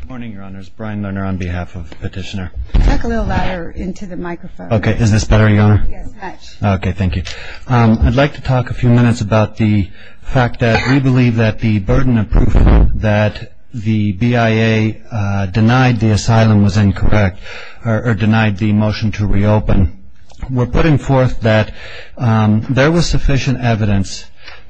Good morning, your honors. Brian Lerner on behalf of the petitioner. Talk a little louder into the microphone. Okay. Is this better, your honor? Yes, much. Okay. Thank you. I'd like to talk a few minutes about the fact that we believe that the burden of proof that the BIA denied the asylum was incorrect or denied the motion to reopen. We're putting forth that there was sufficient evidence,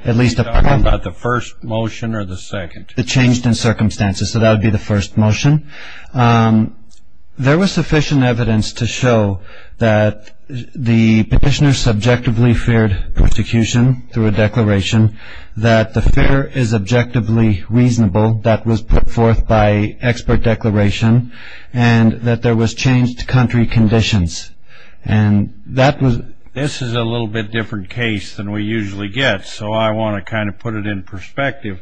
at least a part of it. Are you talking about the first motion or the second? The changed in circumstances, so that would be the first motion. There was sufficient evidence to show that the petitioner subjectively feared prosecution through a declaration, that the fear is objectively reasonable, that was put forth by expert declaration, and that there was changed country conditions. This is a little bit different case than we usually get, so I want to kind of put it in perspective.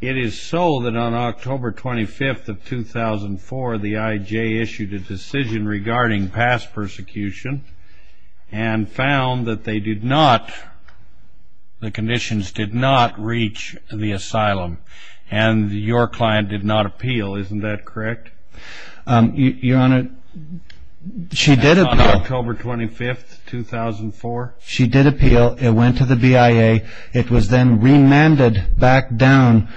It is so that on October 25th of 2004, the IJ issued a decision regarding past persecution and found that they did not, the conditions did not reach the asylum, and your client did not appeal. Isn't that correct? Your honor, she did appeal. On October 25th, 2004? She did appeal. It went to the BIA. It was then remanded back down.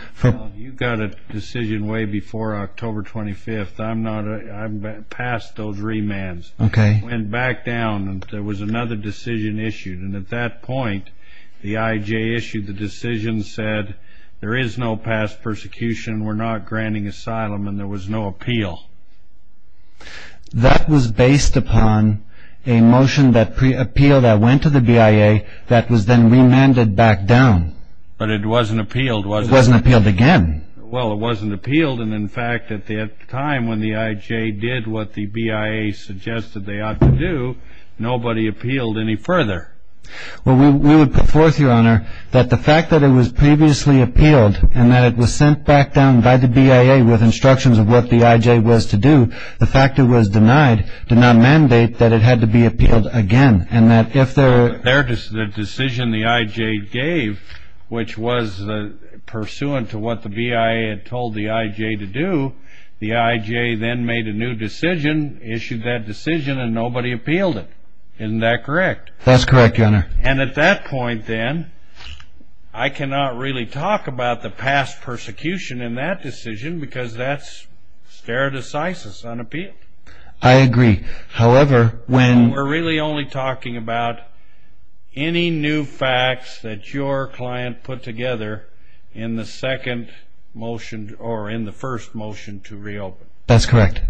You got a decision way before October 25th. I'm past those remands. It went back down. There was another decision issued, and at that point, the IJ issued the decision, said there is no past persecution, we're not granting asylum, and there was no appeal. That was based upon a motion that pre-appealed, that went to the BIA, that was then remanded back down. But it wasn't appealed, was it? It wasn't appealed again. Well, it wasn't appealed, and in fact, at the time when the IJ did what the BIA suggested they ought to do, nobody appealed any further. Well, we would put forth, your honor, that the fact that it was previously appealed and that it was sent back down by the BIA with instructions of what the IJ was to do, the fact it was denied did not mandate that it had to be appealed again. And that if the decision the IJ gave, which was pursuant to what the BIA had told the IJ to do, the IJ then made a new decision, issued that decision, and nobody appealed it. Isn't that correct? That's correct, your honor. And at that point, then, I cannot really talk about the past persecution in that decision because that's stare decisis, unappealed. I agree. However, when we're really only talking about any new facts that your client put together in the second motion or in the first motion to reopen. That's correct.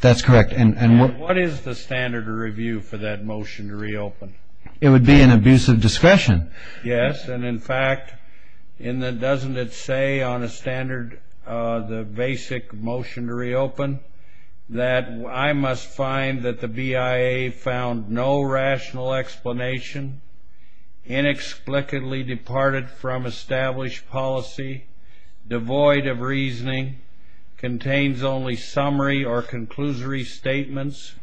That's correct. And what is the standard of review for that motion to reopen? It would be an abuse of discretion. Yes. And, in fact, doesn't it say on a standard, the basic motion to reopen, that I must find that the BIA found no rational explanation, inexplicably departed from established policy, devoid of reasoning, contains only summary or conclusory statements.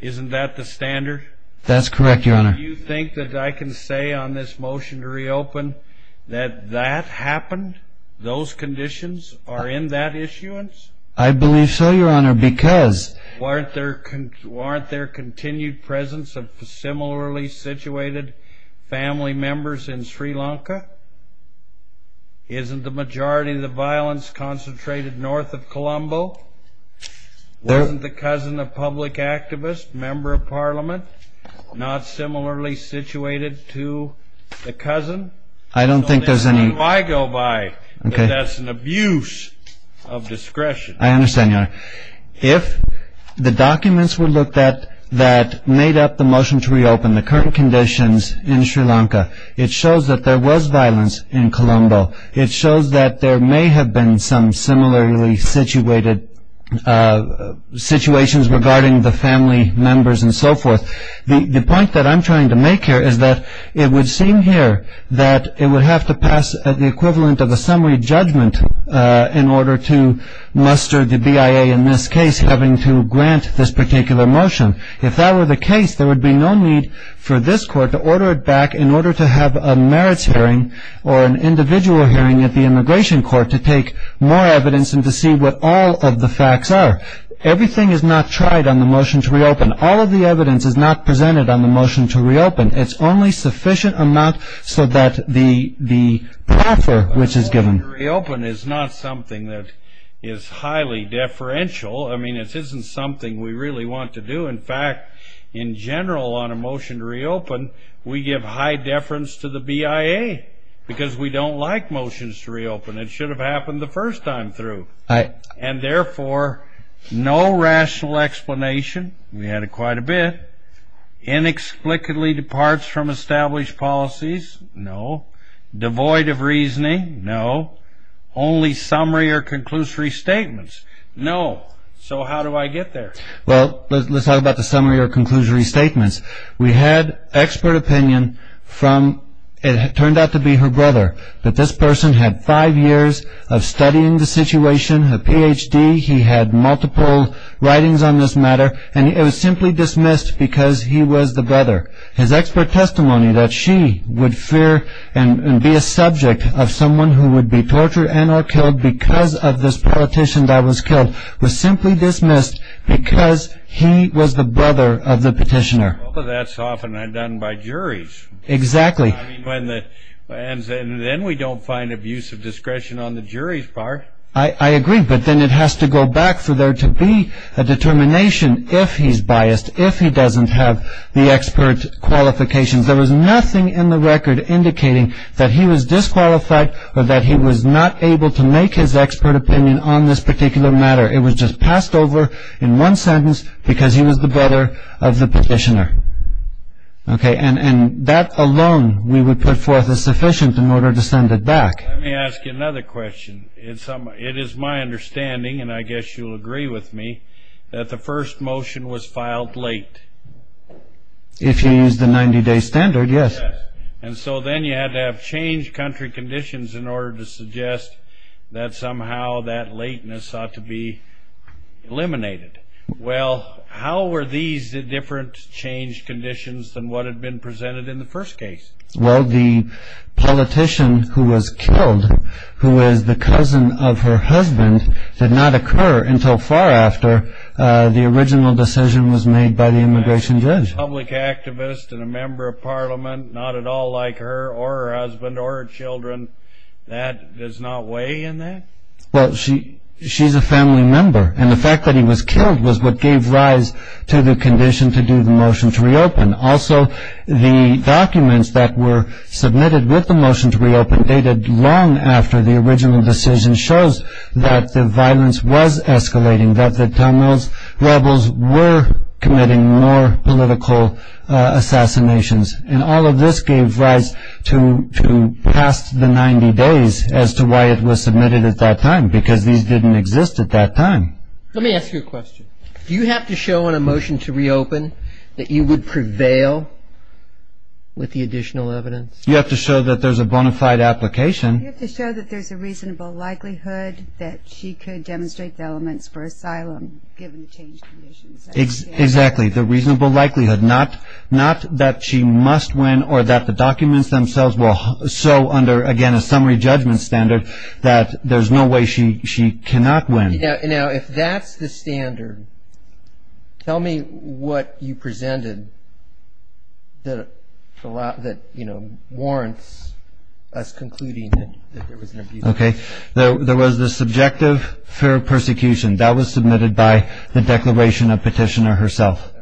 Isn't that the standard? That's correct, your honor. Do you think that I can say on this motion to reopen that that happened, those conditions are in that issuance? I believe so, your honor, because... Weren't there continued presence of similarly situated family members in Sri Lanka? Isn't the majority of the violence concentrated north of Colombo? Wasn't the cousin a public activist, member of parliament, not similarly situated to the cousin? I don't think there's any... That's an abuse of discretion. I understand, your honor. If the documents were looked at that made up the motion to reopen, the current conditions in Sri Lanka, it shows that there was violence in Colombo. It shows that there may have been some similarly situated situations regarding the family members and so forth. The point that I'm trying to make here is that it would seem here that it would have to pass the equivalent of a summary judgment in order to muster the BIA in this case having to grant this particular motion. If that were the case, there would be no need for this court to order it back in order to have a merits hearing or an individual hearing at the immigration court to take more evidence and to see what all of the facts are. Everything is not tried on the motion to reopen. All of the evidence is not presented on the motion to reopen. It's only sufficient amount so that the proffer which is given... A motion to reopen is not something that is highly deferential. I mean, it isn't something we really want to do. In fact, in general, on a motion to reopen, we give high deference to the BIA because we don't like motions to reopen. It should have happened the first time through. And therefore, no rational explanation. We had it quite a bit. Inexplicably departs from established policies. No. Devoid of reasoning. No. Only summary or conclusory statements. No. So how do I get there? Well, let's talk about the summary or conclusory statements. We had expert opinion from... It turned out to be her brother. That this person had five years of studying the situation. A Ph.D. He had multiple writings on this matter. And it was simply dismissed because he was the brother. His expert testimony that she would fear and be a subject of someone who would be tortured and or killed because of this politician that was killed was simply dismissed because he was the brother of the petitioner. Well, that's often done by juries. Exactly. And then we don't find abuse of discretion on the jury's part. I agree. But then it has to go back for there to be a determination if he's biased, if he doesn't have the expert qualifications. There was nothing in the record indicating that he was disqualified or that he was not able to make his expert opinion on this particular matter. It was just passed over in one sentence because he was the brother of the petitioner. And that alone we would put forth as sufficient in order to send it back. Let me ask you another question. It is my understanding, and I guess you'll agree with me, that the first motion was filed late. If you use the 90-day standard, yes. And so then you had to have changed country conditions in order to suggest that somehow that lateness ought to be eliminated. Well, how were these different changed conditions than what had been presented in the first case? Well, the politician who was killed, who was the cousin of her husband, did not occur until far after the original decision was made by the immigration judge. A public activist and a member of parliament not at all like her or her husband or her children, that does not weigh in that? Well, she's a family member, and the fact that he was killed was what gave rise to the condition to do the motion to reopen. Also, the documents that were submitted with the motion to reopen dated long after the original decision shows that the violence was escalating, that the tunnels rebels were committing more political assassinations. And all of this gave rise to past the 90 days as to why it was submitted at that time, because these didn't exist at that time. Let me ask you a question. Do you have to show in a motion to reopen that you would prevail with the additional evidence? You have to show that there's a bona fide application. You have to show that there's a reasonable likelihood that she could demonstrate the elements for asylum given the changed conditions. Exactly, the reasonable likelihood. Not that she must win or that the documents themselves will show under, again, a summary judgment standard that there's no way she cannot win. Now, if that's the standard, tell me what you presented that warrants us concluding that there was an abuse. Okay. There was the subjective fair persecution. That was submitted by the declaration of petitioner herself.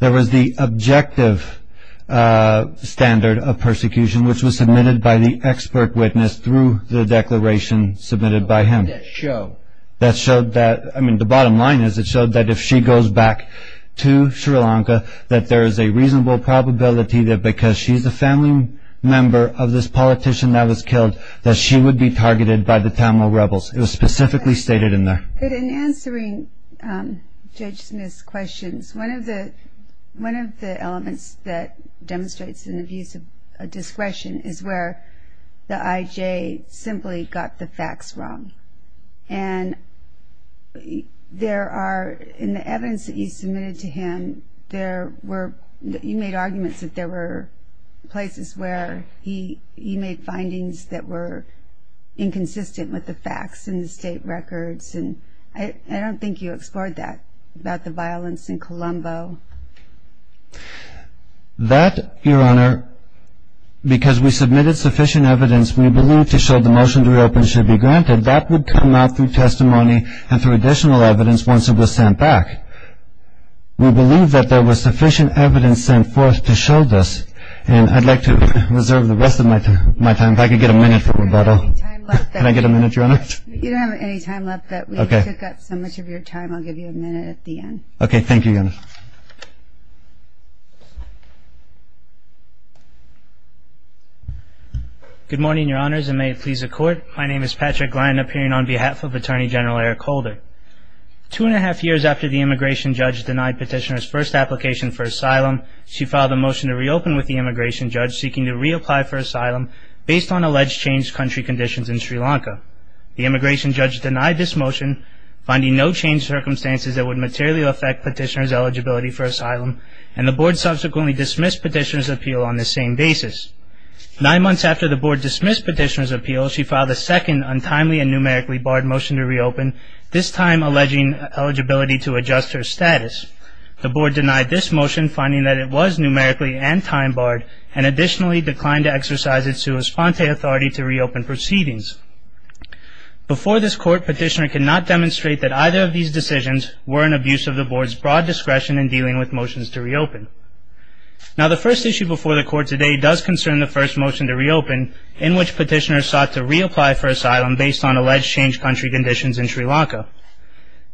There was the objective standard of persecution, which was submitted by the expert witness through the declaration submitted by him. What did that show? The bottom line is it showed that if she goes back to Sri Lanka, that there is a reasonable probability that because she's a family member of this politician that was killed, that she would be targeted by the Tamil rebels. It was specifically stated in there. In answering Judge Smith's questions, one of the elements that demonstrates an abuse of discretion is where the IJ simply got the facts wrong. And there are, in the evidence that you submitted to him, there were, you made arguments that there were places where he made findings that were inconsistent with the facts in the state records. And I don't think you explored that, about the violence in Colombo. That, Your Honor, because we submitted sufficient evidence, we believe to show the motion to reopen should be granted. That would come out through testimony and through additional evidence once it was sent back. We believe that there was sufficient evidence sent forth to show this. And I'd like to reserve the rest of my time. If I could get a minute for rebuttal. Can I get a minute, Your Honor? You don't have any time left. We took up so much of your time. I'll give you a minute at the end. Okay. Thank you, Your Honor. Good morning, Your Honors, and may it please the Court. My name is Patrick Lyon, appearing on behalf of Attorney General Eric Holder. Two and a half years after the immigration judge denied petitioner's first application for asylum, she filed a motion to reopen with the immigration judge, seeking to reapply for asylum based on alleged changed country conditions in Sri Lanka. The immigration judge denied this motion, finding no changed circumstances that would materially affect petitioner's eligibility for asylum, and the Board subsequently dismissed petitioner's appeal on this same basis. Nine months after the Board dismissed petitioner's appeal, she filed a second untimely and numerically barred motion to reopen, this time alleging eligibility to adjust her status. The Board denied this motion, finding that it was numerically and time barred, and additionally declined to exercise its sua sponte authority to reopen proceedings. Before this Court, petitioner could not demonstrate that either of these decisions were an abuse of the Board's broad discretion in dealing with motions to reopen. Now, the first issue before the Court today does concern the first motion to reopen, in which petitioner sought to reapply for asylum based on alleged changed country conditions in Sri Lanka.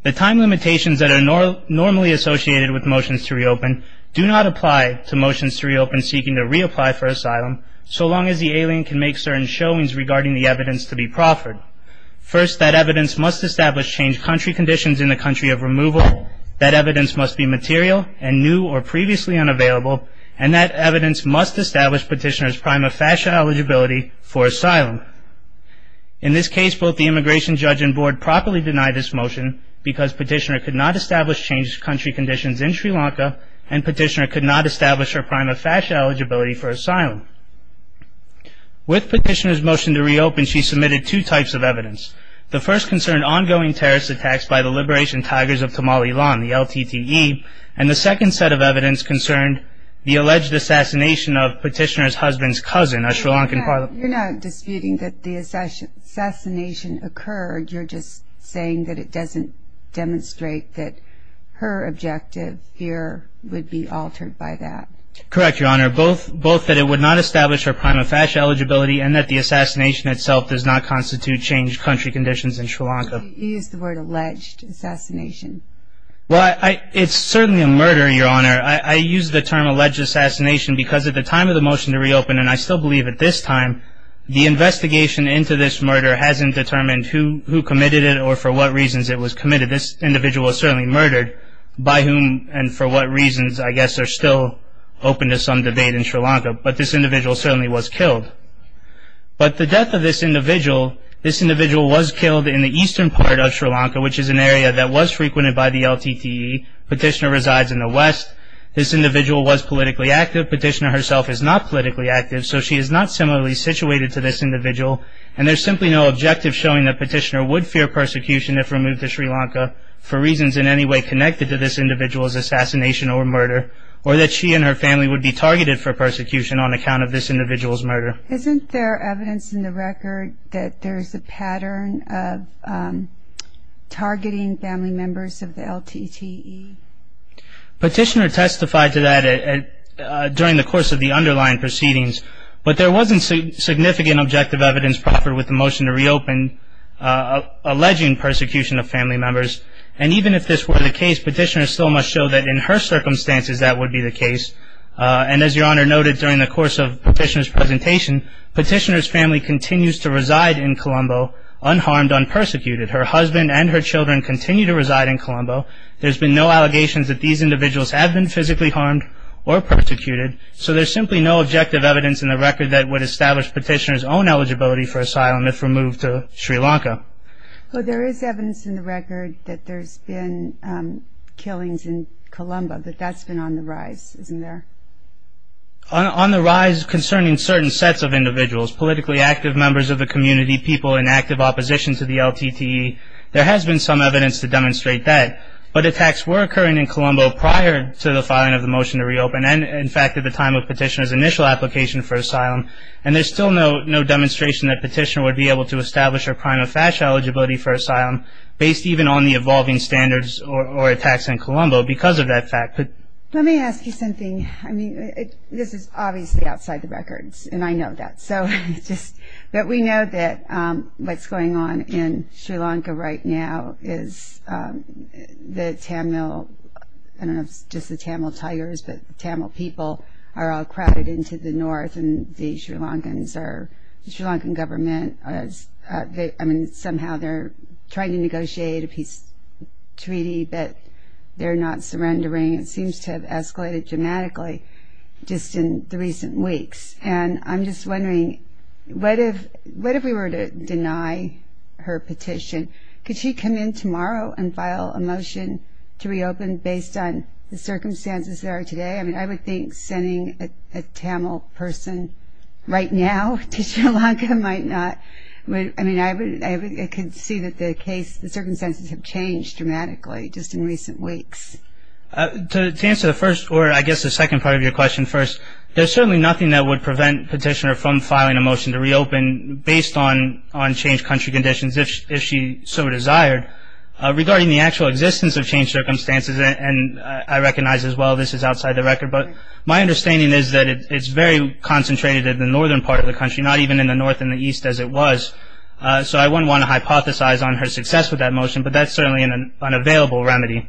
The time limitations that are normally associated with motions to reopen do not apply to motions to reopen seeking to reapply for asylum, so long as the alien can make certain showings regarding the evidence to be proffered. First, that evidence must establish changed country conditions in the country of removal, that evidence must be material and new or previously unavailable, and that evidence must establish petitioner's prima facie eligibility for asylum. In this case, both the immigration judge and Board properly denied this motion, because petitioner could not establish changed country conditions in Sri Lanka, and petitioner could not establish her prima facie eligibility for asylum. With petitioner's motion to reopen, she submitted two types of evidence. The first concerned ongoing terrorist attacks by the Liberation Tigers of Tamalilan, the LTTE, and the second set of evidence concerned the alleged assassination of petitioner's husband's cousin, a Sri Lankan parliamentarian. You're not disputing that the assassination occurred, you're just saying that it doesn't demonstrate that her objective here would be altered by that. Correct, Your Honor. Both that it would not establish her prima facie eligibility, and that the assassination itself does not constitute changed country conditions in Sri Lanka. You used the word alleged assassination. Well, it's certainly a murder, Your Honor. I use the term alleged assassination because at the time of the motion to reopen, and I still believe at this time, the investigation into this murder hasn't determined who committed it or for what reasons it was committed. This individual was certainly murdered, by whom and for what reasons I guess are still open to some debate in Sri Lanka. But this individual certainly was killed. But the death of this individual, this individual was killed in the eastern part of Sri Lanka, which is an area that was frequented by the LTTE. Petitioner resides in the west. This individual was politically active. The fact that Petitioner herself is not politically active, so she is not similarly situated to this individual, and there's simply no objective showing that Petitioner would fear persecution if removed to Sri Lanka, for reasons in any way connected to this individual's assassination or murder, or that she and her family would be targeted for persecution on account of this individual's murder. Isn't there evidence in the record that there's a pattern of targeting family members of the LTTE? Petitioner testified to that during the course of the underlying proceedings. But there wasn't significant objective evidence proffered with the motion to reopen, alleging persecution of family members. And even if this were the case, Petitioner still must show that in her circumstances that would be the case. And as Your Honor noted during the course of Petitioner's presentation, Petitioner's family continues to reside in Colombo unharmed, unpersecuted. Her husband and her children continue to reside in Colombo. There's been no allegations that these individuals have been physically harmed or persecuted, so there's simply no objective evidence in the record that would establish Petitioner's own eligibility for asylum if removed to Sri Lanka. Well, there is evidence in the record that there's been killings in Colombo, but that's been on the rise, isn't there? On the rise concerning certain sets of individuals, politically active members of the community, people in active opposition to the LTTE, there has been some evidence to demonstrate that. But attacks were occurring in Colombo prior to the filing of the motion to reopen, and in fact at the time of Petitioner's initial application for asylum. And there's still no demonstration that Petitioner would be able to establish her prima facie eligibility for asylum, based even on the evolving standards or attacks in Colombo because of that fact. Let me ask you something. I mean, this is obviously outside the records, and I know that. But we know that what's going on in Sri Lanka right now is the Tamil, I don't know if it's just the Tamil Tigers, but the Tamil people are all crowded into the north, and the Sri Lankans are, the Sri Lankan government, I mean, somehow they're trying to negotiate a peace treaty, but they're not surrendering. It seems to have escalated dramatically just in the recent weeks. And I'm just wondering, what if we were to deny her petition? Could she come in tomorrow and file a motion to reopen based on the circumstances there are today? I mean, I would think sending a Tamil person right now to Sri Lanka might not, I mean, I could see that the circumstances have changed dramatically just in recent weeks. To answer the first, or I guess the second part of your question first, there's certainly nothing that would prevent Petitioner from filing a motion to reopen based on changed country conditions if she so desired. Regarding the actual existence of changed circumstances, and I recognize as well this is outside the record, but my understanding is that it's very concentrated in the northern part of the country, not even in the north and the east as it was. So I wouldn't want to hypothesize on her success with that motion, but that's certainly an unavailable remedy.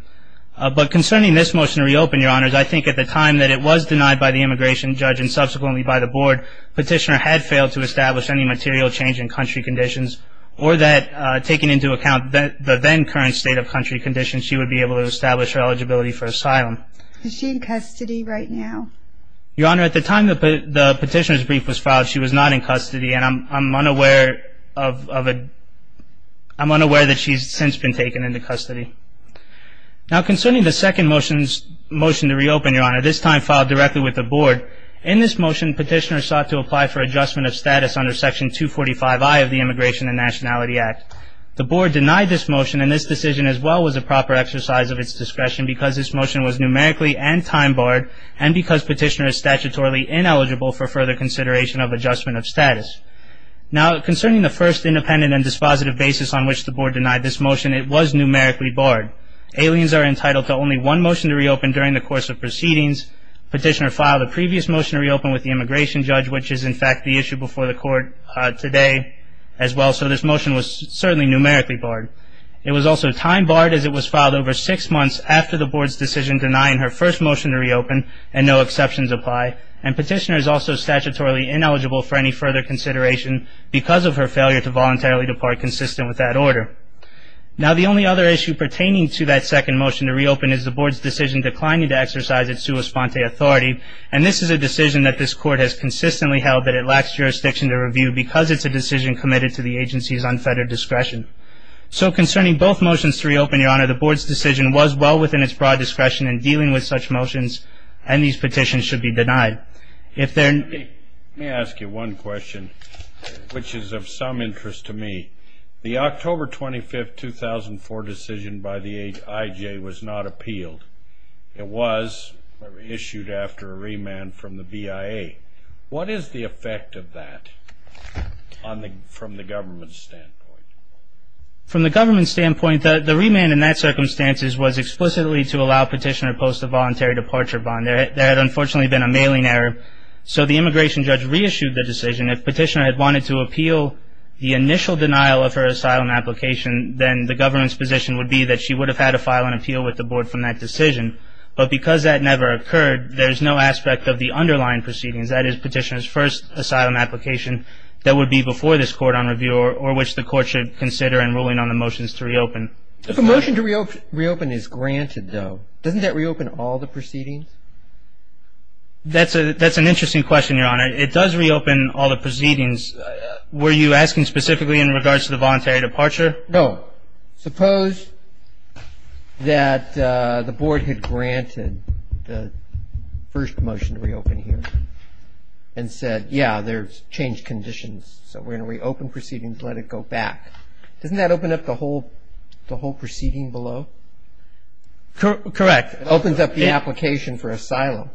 But concerning this motion to reopen, Your Honors, I think at the time that it was denied by the immigration judge and subsequently by the board, Petitioner had failed to establish any material change in country conditions, or that taking into account the then current state of country conditions, she would be able to establish her eligibility for asylum. Is she in custody right now? Your Honor, at the time the Petitioner's brief was filed, she was not in custody, and I'm unaware that she's since been taken into custody. Now concerning the second motion to reopen, Your Honor, this time filed directly with the board, in this motion Petitioner sought to apply for adjustment of status under section 245I of the Immigration and Nationality Act. The board denied this motion, and this decision as well was a proper exercise of its discretion because this motion was numerically and time barred, and because Petitioner is statutorily ineligible for further consideration of adjustment of status. Now concerning the first independent and dispositive basis on which the board denied this motion, it was numerically barred. Aliens are entitled to only one motion to reopen during the course of proceedings. Petitioner filed a previous motion to reopen with the immigration judge, which is in fact the issue before the court today as well, so this motion was certainly numerically barred. It was also time barred as it was filed over six months after the board's decision denying her first motion to reopen, and no exceptions apply, and Petitioner is also statutorily ineligible for any further consideration because of her failure to voluntarily depart consistent with that order. Now the only other issue pertaining to that second motion to reopen is the board's decision declining to exercise its sua sponte authority, and this is a decision that this court has consistently held that it lacks jurisdiction to review because it's a decision committed to the agency's unfettered discretion. So concerning both motions to reopen, Your Honor, the board's decision was well within its broad discretion in dealing with such motions, and these petitions should be denied. Let me ask you one question, which is of some interest to me. The October 25, 2004 decision by the IJ was not appealed. It was issued after a remand from the BIA. What is the effect of that from the government's standpoint? From the government's standpoint, the remand in that circumstance was explicitly to allow Petitioner to post a voluntary departure bond. There had unfortunately been a mailing error, so the immigration judge reissued the decision. If Petitioner had wanted to appeal the initial denial of her asylum application, then the government's position would be that she would have had to file an appeal with the board from that decision. But because that never occurred, there's no aspect of the underlying proceedings, that is Petitioner's first asylum application, that would be before this court on review or which the court should consider in ruling on the motions to reopen. If a motion to reopen is granted, though, doesn't that reopen all the proceedings? That's an interesting question, Your Honor. It does reopen all the proceedings. Were you asking specifically in regards to the voluntary departure? No. Suppose that the board had granted the first motion to reopen here and said, yeah, there's changed conditions, so we're going to reopen proceedings, let it go back. Doesn't that open up the whole proceeding below? Correct. It opens up the application for asylum.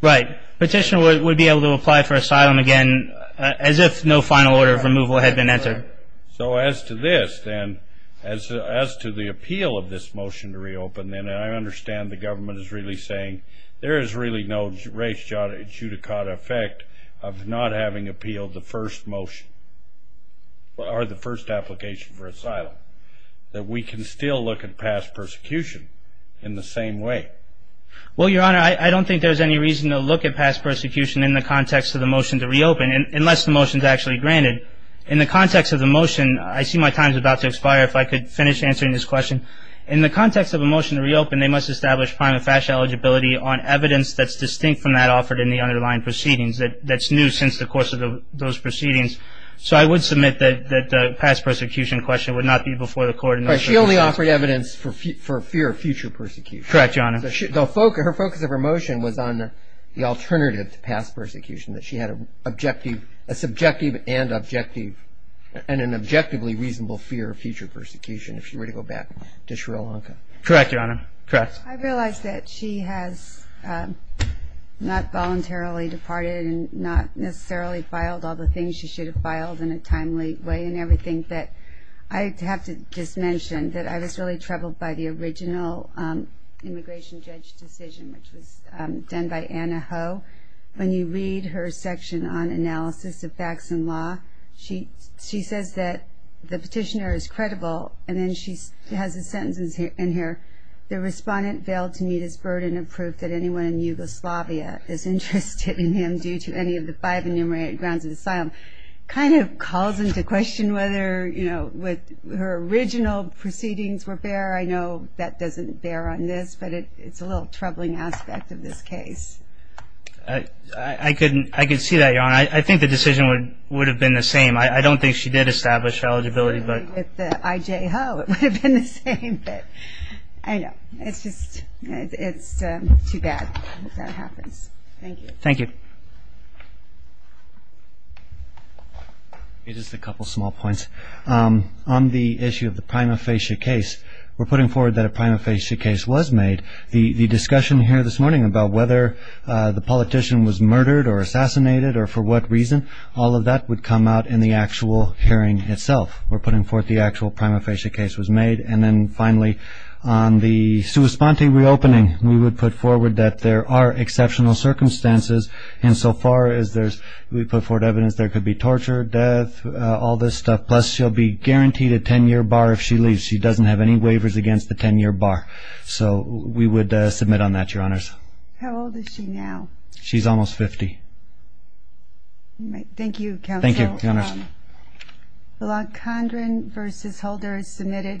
Right. Petitioner would be able to apply for asylum again as if no final order of removal had been entered. So as to this, then, as to the appeal of this motion to reopen, then I understand the government is really saying there is really no res judicata effect of not having appealed the first motion or the first application for asylum, that we can still look at past persecution in the same way. Well, Your Honor, I don't think there's any reason to look at past persecution in the context of the motion to reopen, unless the motion is actually granted. In the context of the motion, I see my time is about to expire. If I could finish answering this question. In the context of a motion to reopen, they must establish prime and fascia eligibility on evidence that's distinct from that offered in the underlying proceedings that's new since the course of those proceedings. So I would submit that the past persecution question would not be before the court. But she only offered evidence for fear of future persecution. Correct, Your Honor. Her focus of her motion was on the alternative to past persecution, that she had a subjective and an objectively reasonable fear of future persecution, if she were to go back to Sri Lanka. Correct, Your Honor. I realize that she has not voluntarily departed and not necessarily filed all the things she should have filed in a timely way and everything. But I have to just mention that I was really troubled by the original immigration judge decision, which was done by Anna Ho. When you read her section on analysis of facts and law, she says that the petitioner is credible, and then she has a sentence in here, the respondent failed to meet his burden of proof that anyone in Yugoslavia is interested in him due to any of the five enumerated grounds of asylum. It kind of calls into question whether her original proceedings were fair. I know that doesn't bear on this, but it's a little troubling aspect of this case. I can see that, Your Honor. I think the decision would have been the same. I don't think she did establish eligibility. With the I.J. Ho, it would have been the same. I know. It's just too bad that that happens. Thank you. Thank you. Just a couple small points. On the issue of the prima facie case, we're putting forward that a prima facie case was made. The discussion here this morning about whether the politician was murdered or assassinated or for what reason, all of that would come out in the actual hearing itself. We're putting forth the actual prima facie case was made. And then finally, on the sua sponte reopening, we would put forward that there are exceptional circumstances. And so far as we put forward evidence, there could be torture, death, all this stuff. Plus, she'll be guaranteed a 10-year bar if she leaves. She doesn't have any waivers against the 10-year bar. So we would submit on that, Your Honors. How old is she now? Thank you, Counsel. Thank you, Your Honors.